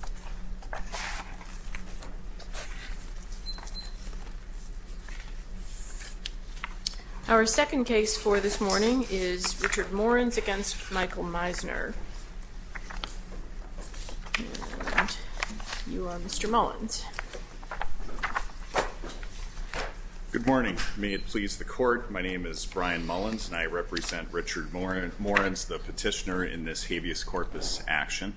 Mr. Morens, may it please the Court, my name is Brian Morens and I represent Richard Morens, the petitioner in this habeas corpus action.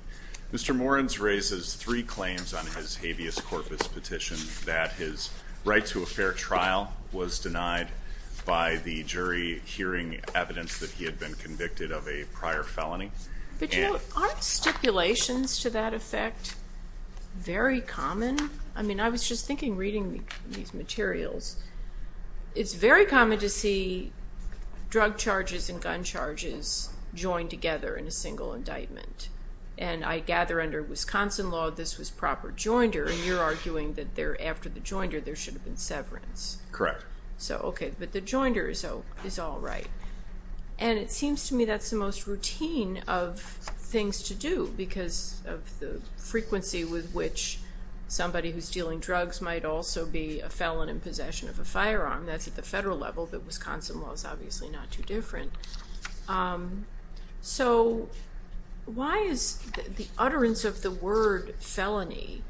Mr. Morens raises three claims on his habeas corpus petition that his right to a fair trial was denied by the jury hearing evidence that he had been convicted of a prior felony. But you know, aren't stipulations to that effect very common? I mean, I was just thinking reading these materials, it's very common to see drug charges and gun charges joined together in a single indictment. And I gather under Wisconsin law, this was proper joinder and you're arguing that there, after the joinder, there should have been severance. Correct. So, okay, but the joinder is all right. And it seems to me that's the most routine of things to do because of the frequency with which somebody who's dealing drugs might also be a felon in possession of a firearm. That's at the federal level, but Wisconsin law is obviously not too different. So why is the utterance of the word felony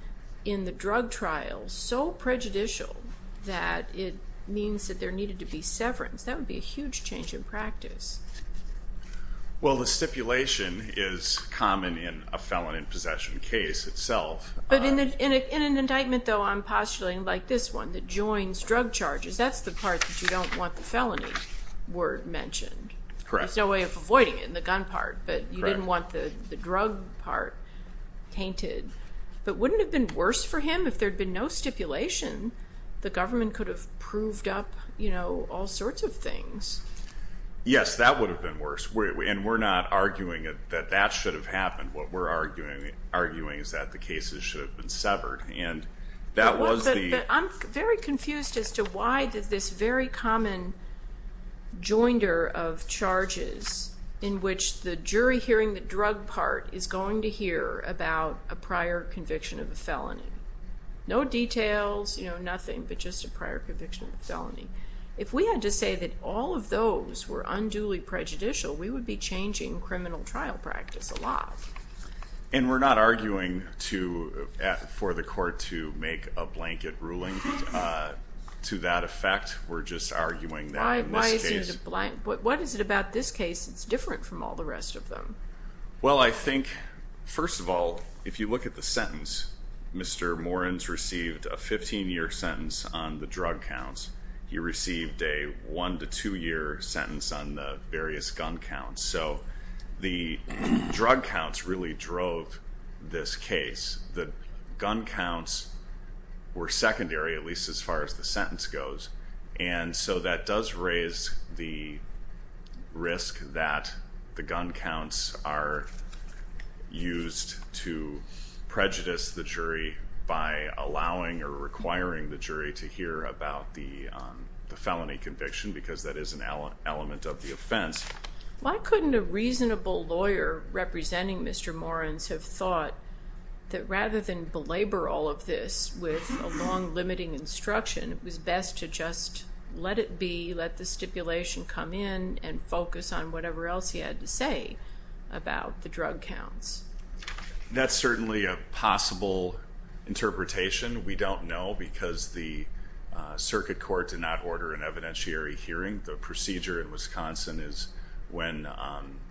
in the drug trial so prejudicial that it means that there needed to be severance? That would be a huge change in practice. Well, the stipulation is common in a felon in possession case itself. But in an indictment, though, I'm postulating like this one, the joins drug charges, that's the part that you don't want the felony word mentioned. Correct. There's no way of avoiding it in the gun part, but you didn't want the drug part tainted. But wouldn't it have been worse for him if there had been no stipulation? The government could have proved up, you know, all sorts of things. Yes, that would have been worse. And we're not arguing that that should have happened. What we're arguing is that the cases should have been severed. I'm very confused as to why this very common joinder of charges in which the jury hearing the drug part is going to hear about a prior conviction of a felony. No details, you know, nothing, but just a prior conviction of a felony. If we had to say that all of those were unduly prejudicial, we would be changing criminal trial practice a lot. And we're not arguing for the court to make a blanket ruling to that effect. We're just arguing that in this case. Why is it a blank? What is it about this case that's different from all the rest of them? Well, I think, first of all, if you look at the sentence, Mr. Morins received a 15-year sentence on the drug counts. He received a 1- to 2-year sentence on the various gun counts. So the drug counts really drove this case. The gun counts were secondary, at least as far as the sentence goes. And so that does raise the risk that the gun counts are used to prejudice the jury by allowing or requiring the jury to hear about the felony conviction because that is an element of the offense. Why couldn't a reasonable lawyer representing Mr. Morins have thought that rather than belabor all of this with a long limiting instruction, it was best to just let it be, let the stipulation come in, and focus on whatever else he had to say about the drug counts? That's certainly a possible interpretation. We don't know because the circuit court did not order an evidentiary hearing. The procedure in Wisconsin is when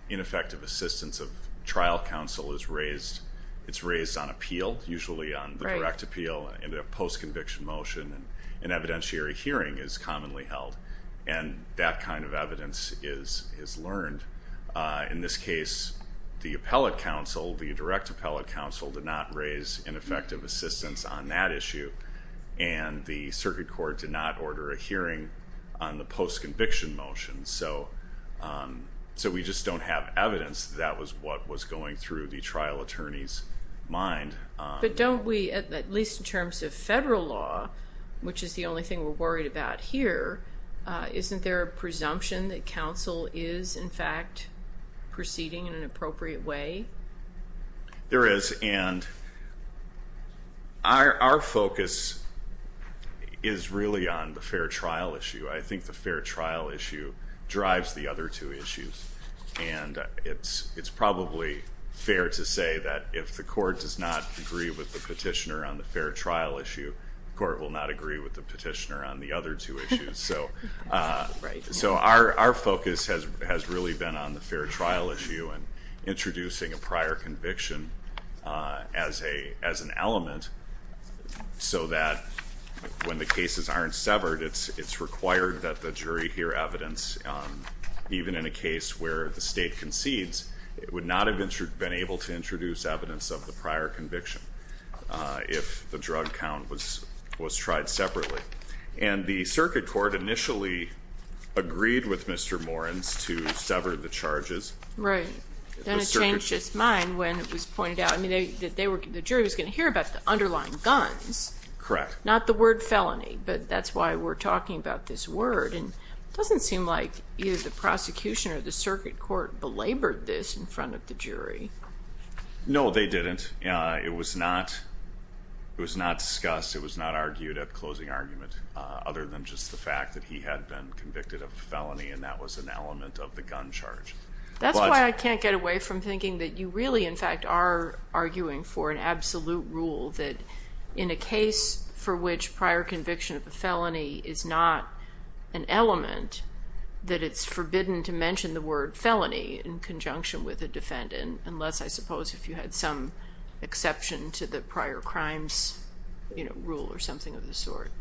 ineffective assistance of trial counsel is raised. It's raised on appeal, usually on the direct appeal and a post-conviction motion. An evidentiary hearing is commonly held, and that kind of evidence is learned. In this case, the appellate counsel, the direct appellate counsel, did not raise ineffective assistance on that issue, and the circuit court did not order a hearing on the post-conviction motion. So we just don't have evidence that that was what was going through the trial attorney's mind. But don't we, at least in terms of federal law, which is the only thing we're worried about here, isn't there a presumption that counsel is, in fact, proceeding in an appropriate way? There is, and our focus is really on the fair trial issue. I think the fair trial issue drives the other two issues, and it's probably fair to say that if the court does not agree with the petitioner on the fair trial issue, the court will not agree with the petitioner on the other two issues. So our focus has really been on the fair trial issue and introducing a prior conviction as an element so that when the cases aren't severed, it's required that the jury hear evidence even in a case where the state concedes. It would not have been able to introduce evidence of the prior conviction if the drug count was tried separately. And the circuit court initially agreed with Mr. Morins to sever the charges. Right. Then it changed its mind when it was pointed out that the jury was going to hear about the underlying guns. Correct. Not the word felony, but that's why we're talking about this word. And it doesn't seem like either the prosecution or the circuit court belabored this in front of the jury. No, they didn't. It was not discussed. It was not argued at closing argument other than just the fact that he had been convicted of a felony, and that was an element of the gun charge. That's why I can't get away from thinking that you really, in fact, are arguing for an absolute rule that in a case for which prior conviction of a felony is not an element, that it's forbidden to mention the word felony in conjunction with a defendant, unless, I suppose, if you had some exception to the prior crimes rule or something of the sort.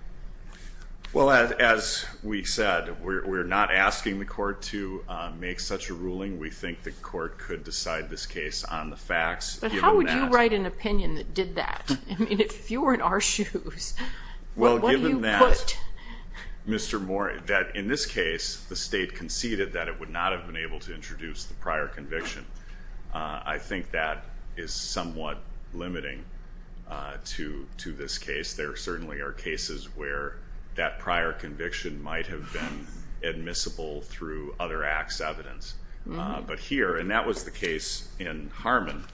Well, as we said, we're not asking the court to make such a ruling. We think the court could decide this case on the facts. But how would you write an opinion that did that? I mean, if you were in our shoes, what would you put? Well, given that, Mr. Morin, that in this case, the state conceded that it would not have been able to introduce the prior conviction, I think that is somewhat limiting to this case. There certainly are cases where that prior conviction might have been admissible through other acts' evidence. But here, and that was the case in Harmon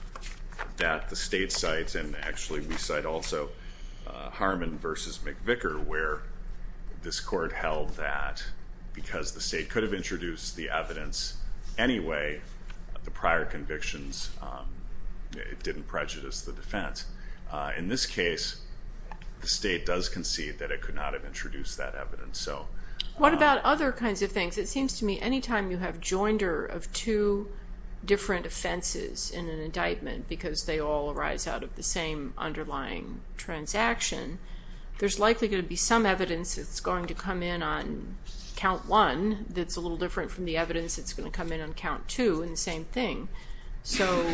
that the state cites, and actually we cite also Harmon v. McVicker, where this court held that because the state could have introduced the evidence anyway, the prior convictions didn't prejudice the defense. In this case, the state does concede that it could not have introduced that evidence. What about other kinds of things? It seems to me anytime you have joinder of two different offenses in an indictment because they all arise out of the same underlying transaction, there's likely going to be some evidence that's going to come in on count one that's a little different from the evidence that's going to come in on count two and the same thing. So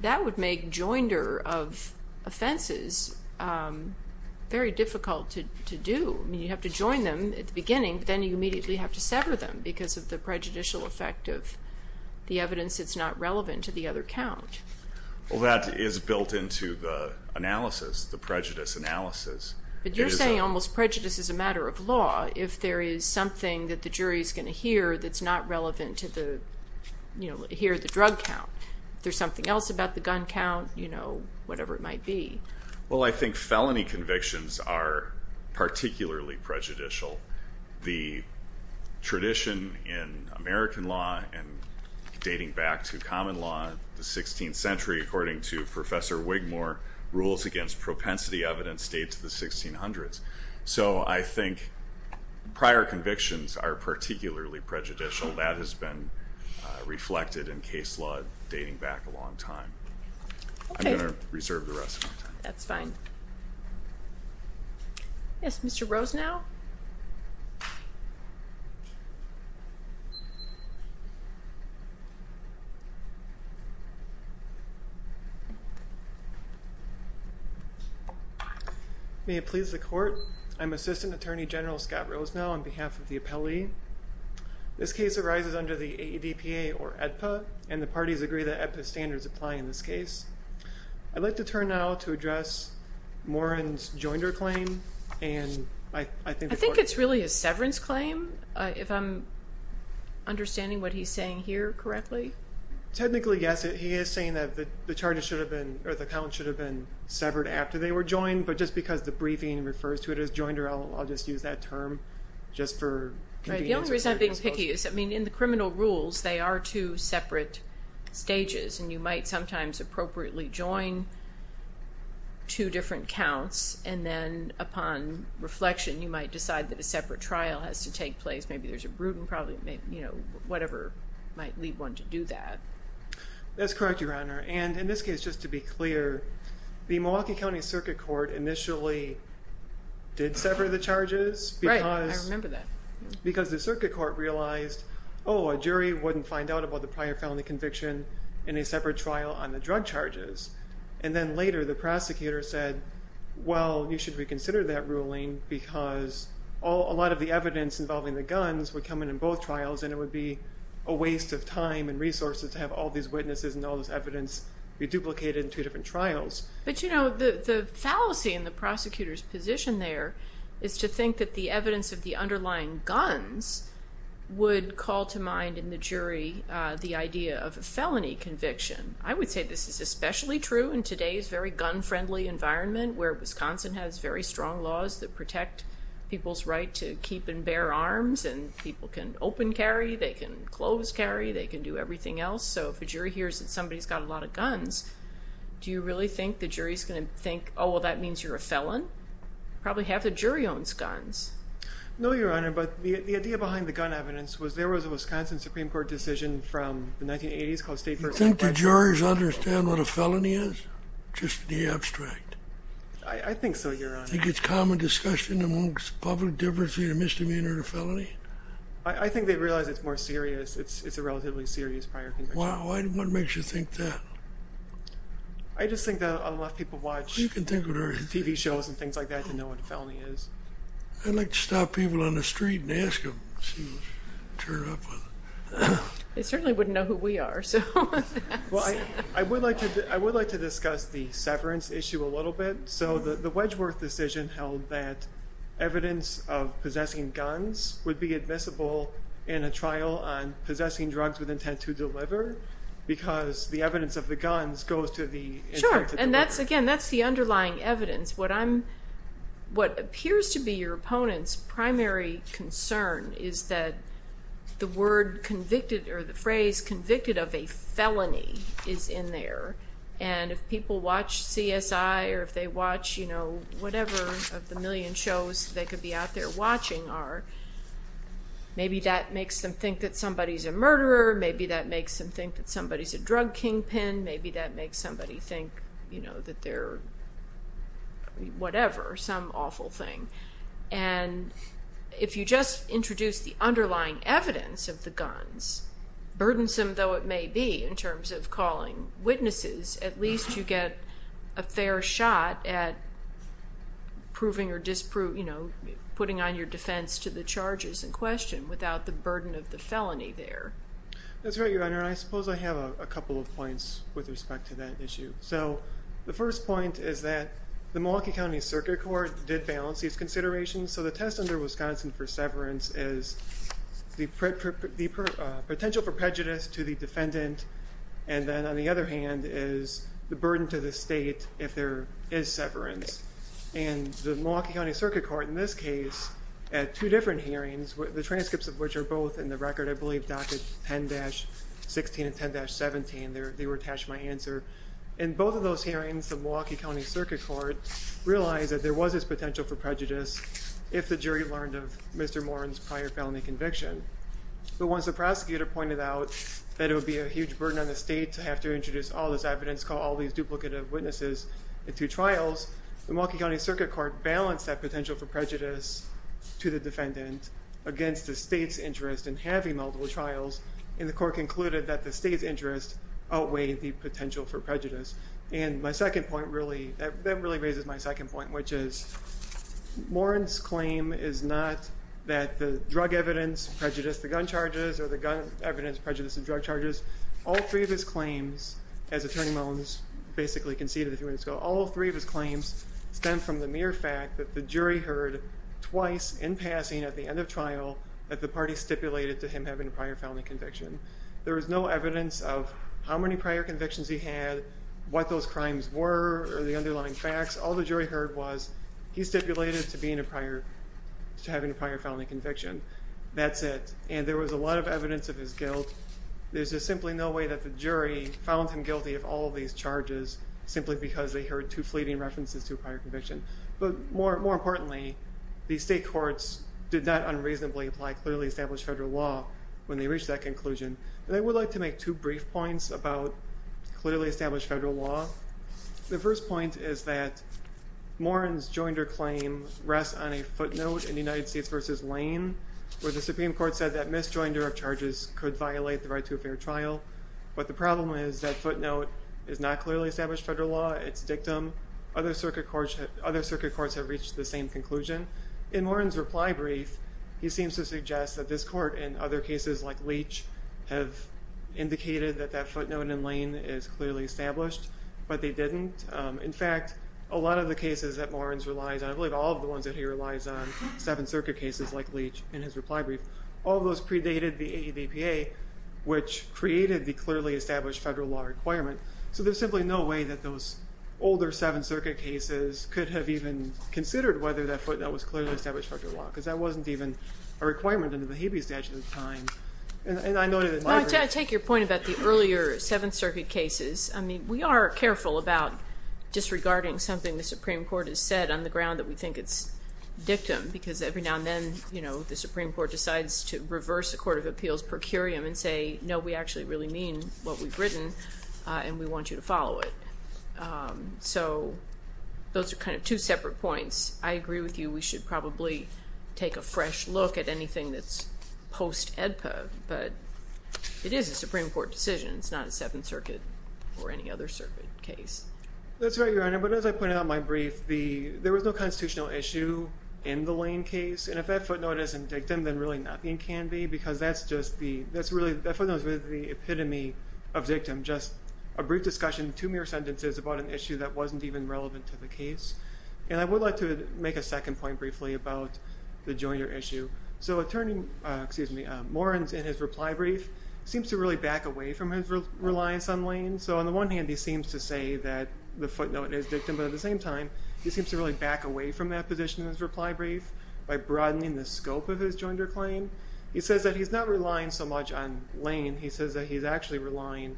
that would make joinder of offenses very difficult to do. I mean, you have to join them at the beginning, but then you immediately have to sever them because of the prejudicial effect of the evidence that's not relevant to the other count. Well, that is built into the analysis, the prejudice analysis. But you're saying almost prejudice is a matter of law if there is something that the jury is going to hear that's not relevant to hear the drug count. If there's something else about the gun count, whatever it might be. Well, I think felony convictions are particularly prejudicial. The tradition in American law and dating back to common law in the 16th century, according to Professor Wigmore, rules against propensity evidence date to the 1600s. So I think prior convictions are particularly prejudicial. That has been reflected in case law dating back a long time. I'm going to reserve the rest of my time. That's fine. Yes, Mr. Rosenau. May it please the court. I'm Assistant Attorney General Scott Rosenau on behalf of the appellee. This case arises under the ADPA or AEDPA, and the parties agree that AEDPA standards apply in this case. I'd like to turn now to address Moran's joinder claim. I think it's really a severance claim, if I'm understanding what he's saying here correctly. Technically, yes. He is saying that the count should have been severed after they were joined, but just because the briefing refers to it as joinder, I'll just use that term just for convenience. The only reason I'm being picky is in the criminal rules, they are two separate stages, and you might sometimes appropriately join two different counts, and then upon reflection, you might decide that a separate trial has to take place. Maybe there's a Bruton, whatever might lead one to do that. That's correct, Your Honor, and in this case, just to be clear, the Milwaukee County Circuit Court initially did sever the charges. Right, I remember that. Because the circuit court realized, oh, a jury wouldn't find out about the prior felony conviction in a separate trial on the drug charges. And then later, the prosecutor said, well, you should reconsider that ruling because a lot of the evidence involving the guns would come in in both trials, and it would be a waste of time and resources to have all these witnesses and all this evidence be duplicated in two different trials. But, you know, the fallacy in the prosecutor's position there is to think that the evidence of the underlying guns would call to mind in the jury the idea of a felony conviction. I would say this is especially true in today's very gun-friendly environment where Wisconsin has very strong laws that protect people's right to keep and bear arms and people can open carry, they can close carry, they can do everything else. So if a jury hears that somebody's got a lot of guns, do you really think the jury's going to think, oh, well, that means you're a felon? Probably half the jury owns guns. No, Your Honor, but the idea behind the gun evidence was there was a Wisconsin Supreme Court decision from the 1980s called State versus Federal. Do you think the juries understand what a felony is, just in the abstract? I think so, Your Honor. Do you think it's common discussion amongst the public difference between a misdemeanor and a felony? I think they realize it's more serious. It's a relatively serious prior conviction. Why? What makes you think that? I just think that a lot of people watch TV shows and things like that to know what a felony is. I'd like to stop people on the street and ask them to turn up. They certainly wouldn't know who we are. I would like to discuss the severance issue a little bit. The Wedgworth decision held that evidence of possessing guns would be admissible in a trial on possessing drugs with intent to deliver because the evidence of the guns goes to the intent to deliver. Sure, and again, that's the underlying evidence. What appears to be your opponent's primary concern is that the phrase convicted of a felony is in there. If people watch CSI or if they watch whatever of the million shows they could be out there watching, maybe that makes them think that somebody's a murderer. Maybe that makes them think that somebody's a drug kingpin. Maybe that makes somebody think that they're whatever, some awful thing. If you just introduce the underlying evidence of the guns, burdensome though it may be in terms of calling witnesses, at least you get a fair shot at proving or putting on your defense to the charges in question without the burden of the felony there. That's right, Your Honor, and I suppose I have a couple of points with respect to that issue. The first point is that the Milwaukee County Circuit Court did balance these considerations, so the test under Wisconsin for severance is the potential for prejudice to the defendant, and then on the other hand is the burden to the state if there is severance. The Milwaukee County Circuit Court in this case, at two different hearings, the transcripts of which are both in the record, I believe, docket 10-16 and 10-17. They were attached to my answer. In both of those hearings, the Milwaukee County Circuit Court realized that there was this potential for prejudice if the jury learned of Mr. Moran's prior felony conviction. But once the prosecutor pointed out that it would be a huge burden on the state to have to introduce all this evidence, call all these duplicative witnesses in two trials, the Milwaukee County Circuit Court balanced that potential for prejudice to the defendant against the state's interest in having multiple trials, and the court concluded that the state's interest outweighed the potential for prejudice. And my second point really, that really raises my second point, which is Moran's claim is not that the drug evidence prejudiced the gun charges or the gun evidence prejudiced the drug charges. All three of his claims, as Attorney Mullins basically conceded a few minutes ago, all three of his claims stem from the mere fact that the jury heard twice in passing at the end of trial that the party stipulated to him having a prior felony conviction. There was no evidence of how many prior convictions he had, what those crimes were, or the underlying facts. All the jury heard was he stipulated to having a prior felony conviction. That's it. And there was a lot of evidence of his guilt. There's just simply no way that the jury found him guilty of all of these charges simply because they heard two fleeting references to a prior conviction. But more importantly, the state courts did not unreasonably apply clearly established federal law when they reached that conclusion. And I would like to make two brief points about clearly established federal law. The first point is that Moran's joinder claim rests on a footnote in the United States v. Lane where the Supreme Court said that misjoinder of charges could violate the right to a fair trial. But the problem is that footnote is not clearly established federal law. It's dictum. Other circuit courts have reached the same conclusion. In Moran's reply brief, he seems to suggest that this court and other cases like Leach have indicated that that footnote in Lane is clearly established, but they didn't. In fact, a lot of the cases that Moran relies on, I believe all of the ones that he relies on, seven circuit cases like Leach in his reply brief, all of those predated the AEBPA, which created the clearly established federal law requirement. So there's simply no way that those older Seventh Circuit cases could have even considered whether that footnote was clearly established federal law because that wasn't even a requirement under the Habeas Statute at the time. I take your point about the earlier Seventh Circuit cases. I mean, we are careful about disregarding something the Supreme Court has said on the ground that we think it's dictum because every now and then the Supreme Court decides to reverse the Court of Appeals' per curiam and say, no, we actually really mean what we've written and we want you to follow it. So those are kind of two separate points. I agree with you we should probably take a fresh look at anything that's post-AEBPA, but it is a Supreme Court decision. It's not a Seventh Circuit or any other circuit case. That's right, Your Honor. But as I pointed out in my brief, there was no constitutional issue in the Lane case. And if that footnote isn't dictum, then really nothing can be because that footnote is really the epitome of dictum, just a brief discussion, two mere sentences about an issue that wasn't even relevant to the case. And I would like to make a second point briefly about the Joyner issue. So attorney, excuse me, Morens in his reply brief seems to really back away from his reliance on Lane. So on the one hand, he seems to say that the footnote is dictum, but at the same time he seems to really back away from that position in his reply brief by broadening the scope of his Joyner claim. He says that he's not relying so much on Lane. He says that he's actually relying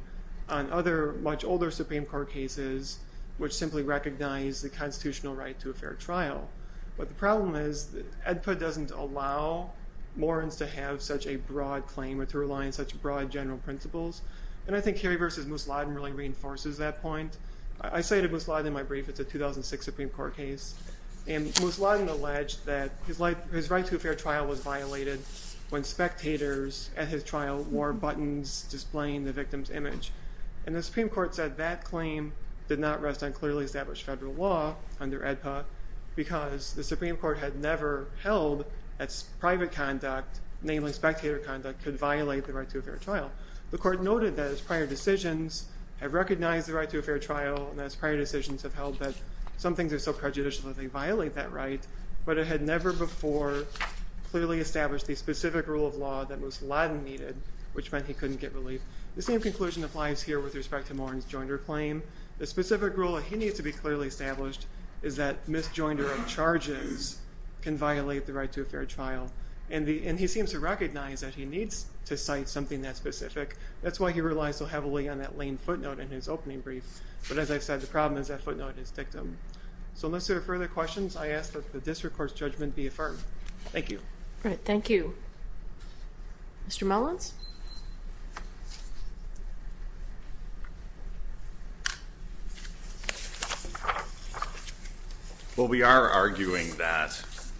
on other much older Supreme Court cases which simply recognize the constitutional right to a fair trial. But the problem is that AEDPA doesn't allow Morens to have such a broad claim or to rely on such broad general principles. And I think Kerry v. Musladin really reinforces that point. I cited Musladin in my brief. It's a 2006 Supreme Court case. And Musladin alleged that his right to a fair trial was violated when spectators at his trial wore buttons displaying the victim's image. And the Supreme Court said that claim did not rest on clearly established federal law under AEDPA because the Supreme Court had never held that private conduct, namely spectator conduct, could violate the right to a fair trial. The court noted that its prior decisions have recognized the right to a fair trial and its prior decisions have held that some things are so prejudicial that they violate that right, but it had never before clearly established the specific rule of law that Musladin needed which meant he couldn't get relief. The same conclusion applies here with respect to Morens' Joyner claim. The specific rule that he needs to be clearly established is that mis-Joyner of charges can violate the right to a fair trial. And he seems to recognize that he needs to cite something that specific. That's why he relies so heavily on that lame footnote in his opening brief. But as I've said, the problem is that footnote is dictum. So unless there are further questions, I ask that the district court's judgment be affirmed. Thank you. All right. Thank you. Mr. Mullins? Well, we are arguing that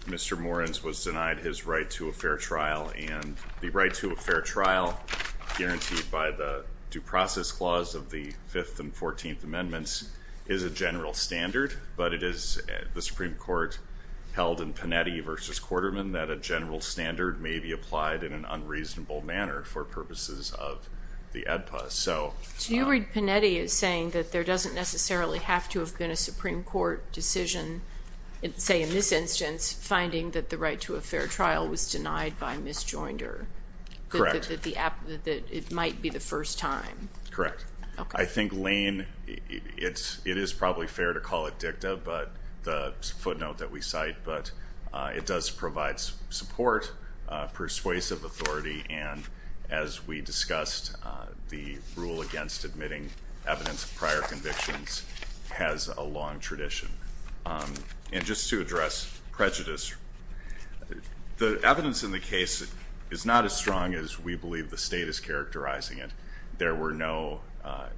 Mr. Morens was denied his right to a fair trial, and the right to a fair trial guaranteed by the Due Process Clause of the 5th and 14th Amendments is a general standard, but it is the Supreme Court held in Panetti v. Quarterman that a general standard may be applied in an unreasonable manner. for purposes of the AEDPA. So you read Panetti as saying that there doesn't necessarily have to have been a Supreme Court decision, say in this instance, finding that the right to a fair trial was denied by mis-Joyner. Correct. That it might be the first time. Correct. Okay. I think Lane, it is probably fair to call it dictum, the footnote that we cite, but it does provide support, persuasive authority, and as we discussed, the rule against admitting evidence of prior convictions has a long tradition. And just to address prejudice, the evidence in the case is not as strong as we believe the State is characterizing it. There were no,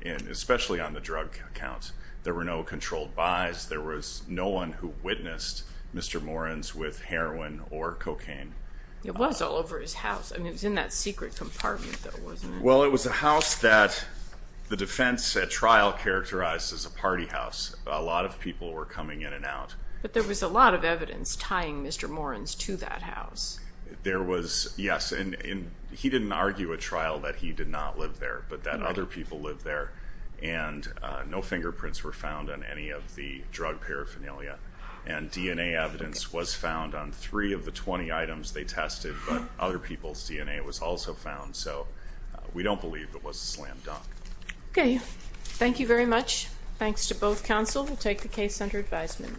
especially on the drug count, there were no controlled buys. There was no one who witnessed Mr. Morins with heroin or cocaine. It was all over his house. It was in that secret compartment, though, wasn't it? Well, it was a house that the defense at trial characterized as a party house. A lot of people were coming in and out. But there was a lot of evidence tying Mr. Morins to that house. There was, yes, and he didn't argue at trial that he did not live there, but that other people lived there, and no fingerprints were found on any of the drug paraphernalia. And DNA evidence was found on three of the 20 items they tested, but other people's DNA was also found. So we don't believe it was a slam dunk. Okay. Thank you very much. Thanks to both counsel. We'll take the case under advisement.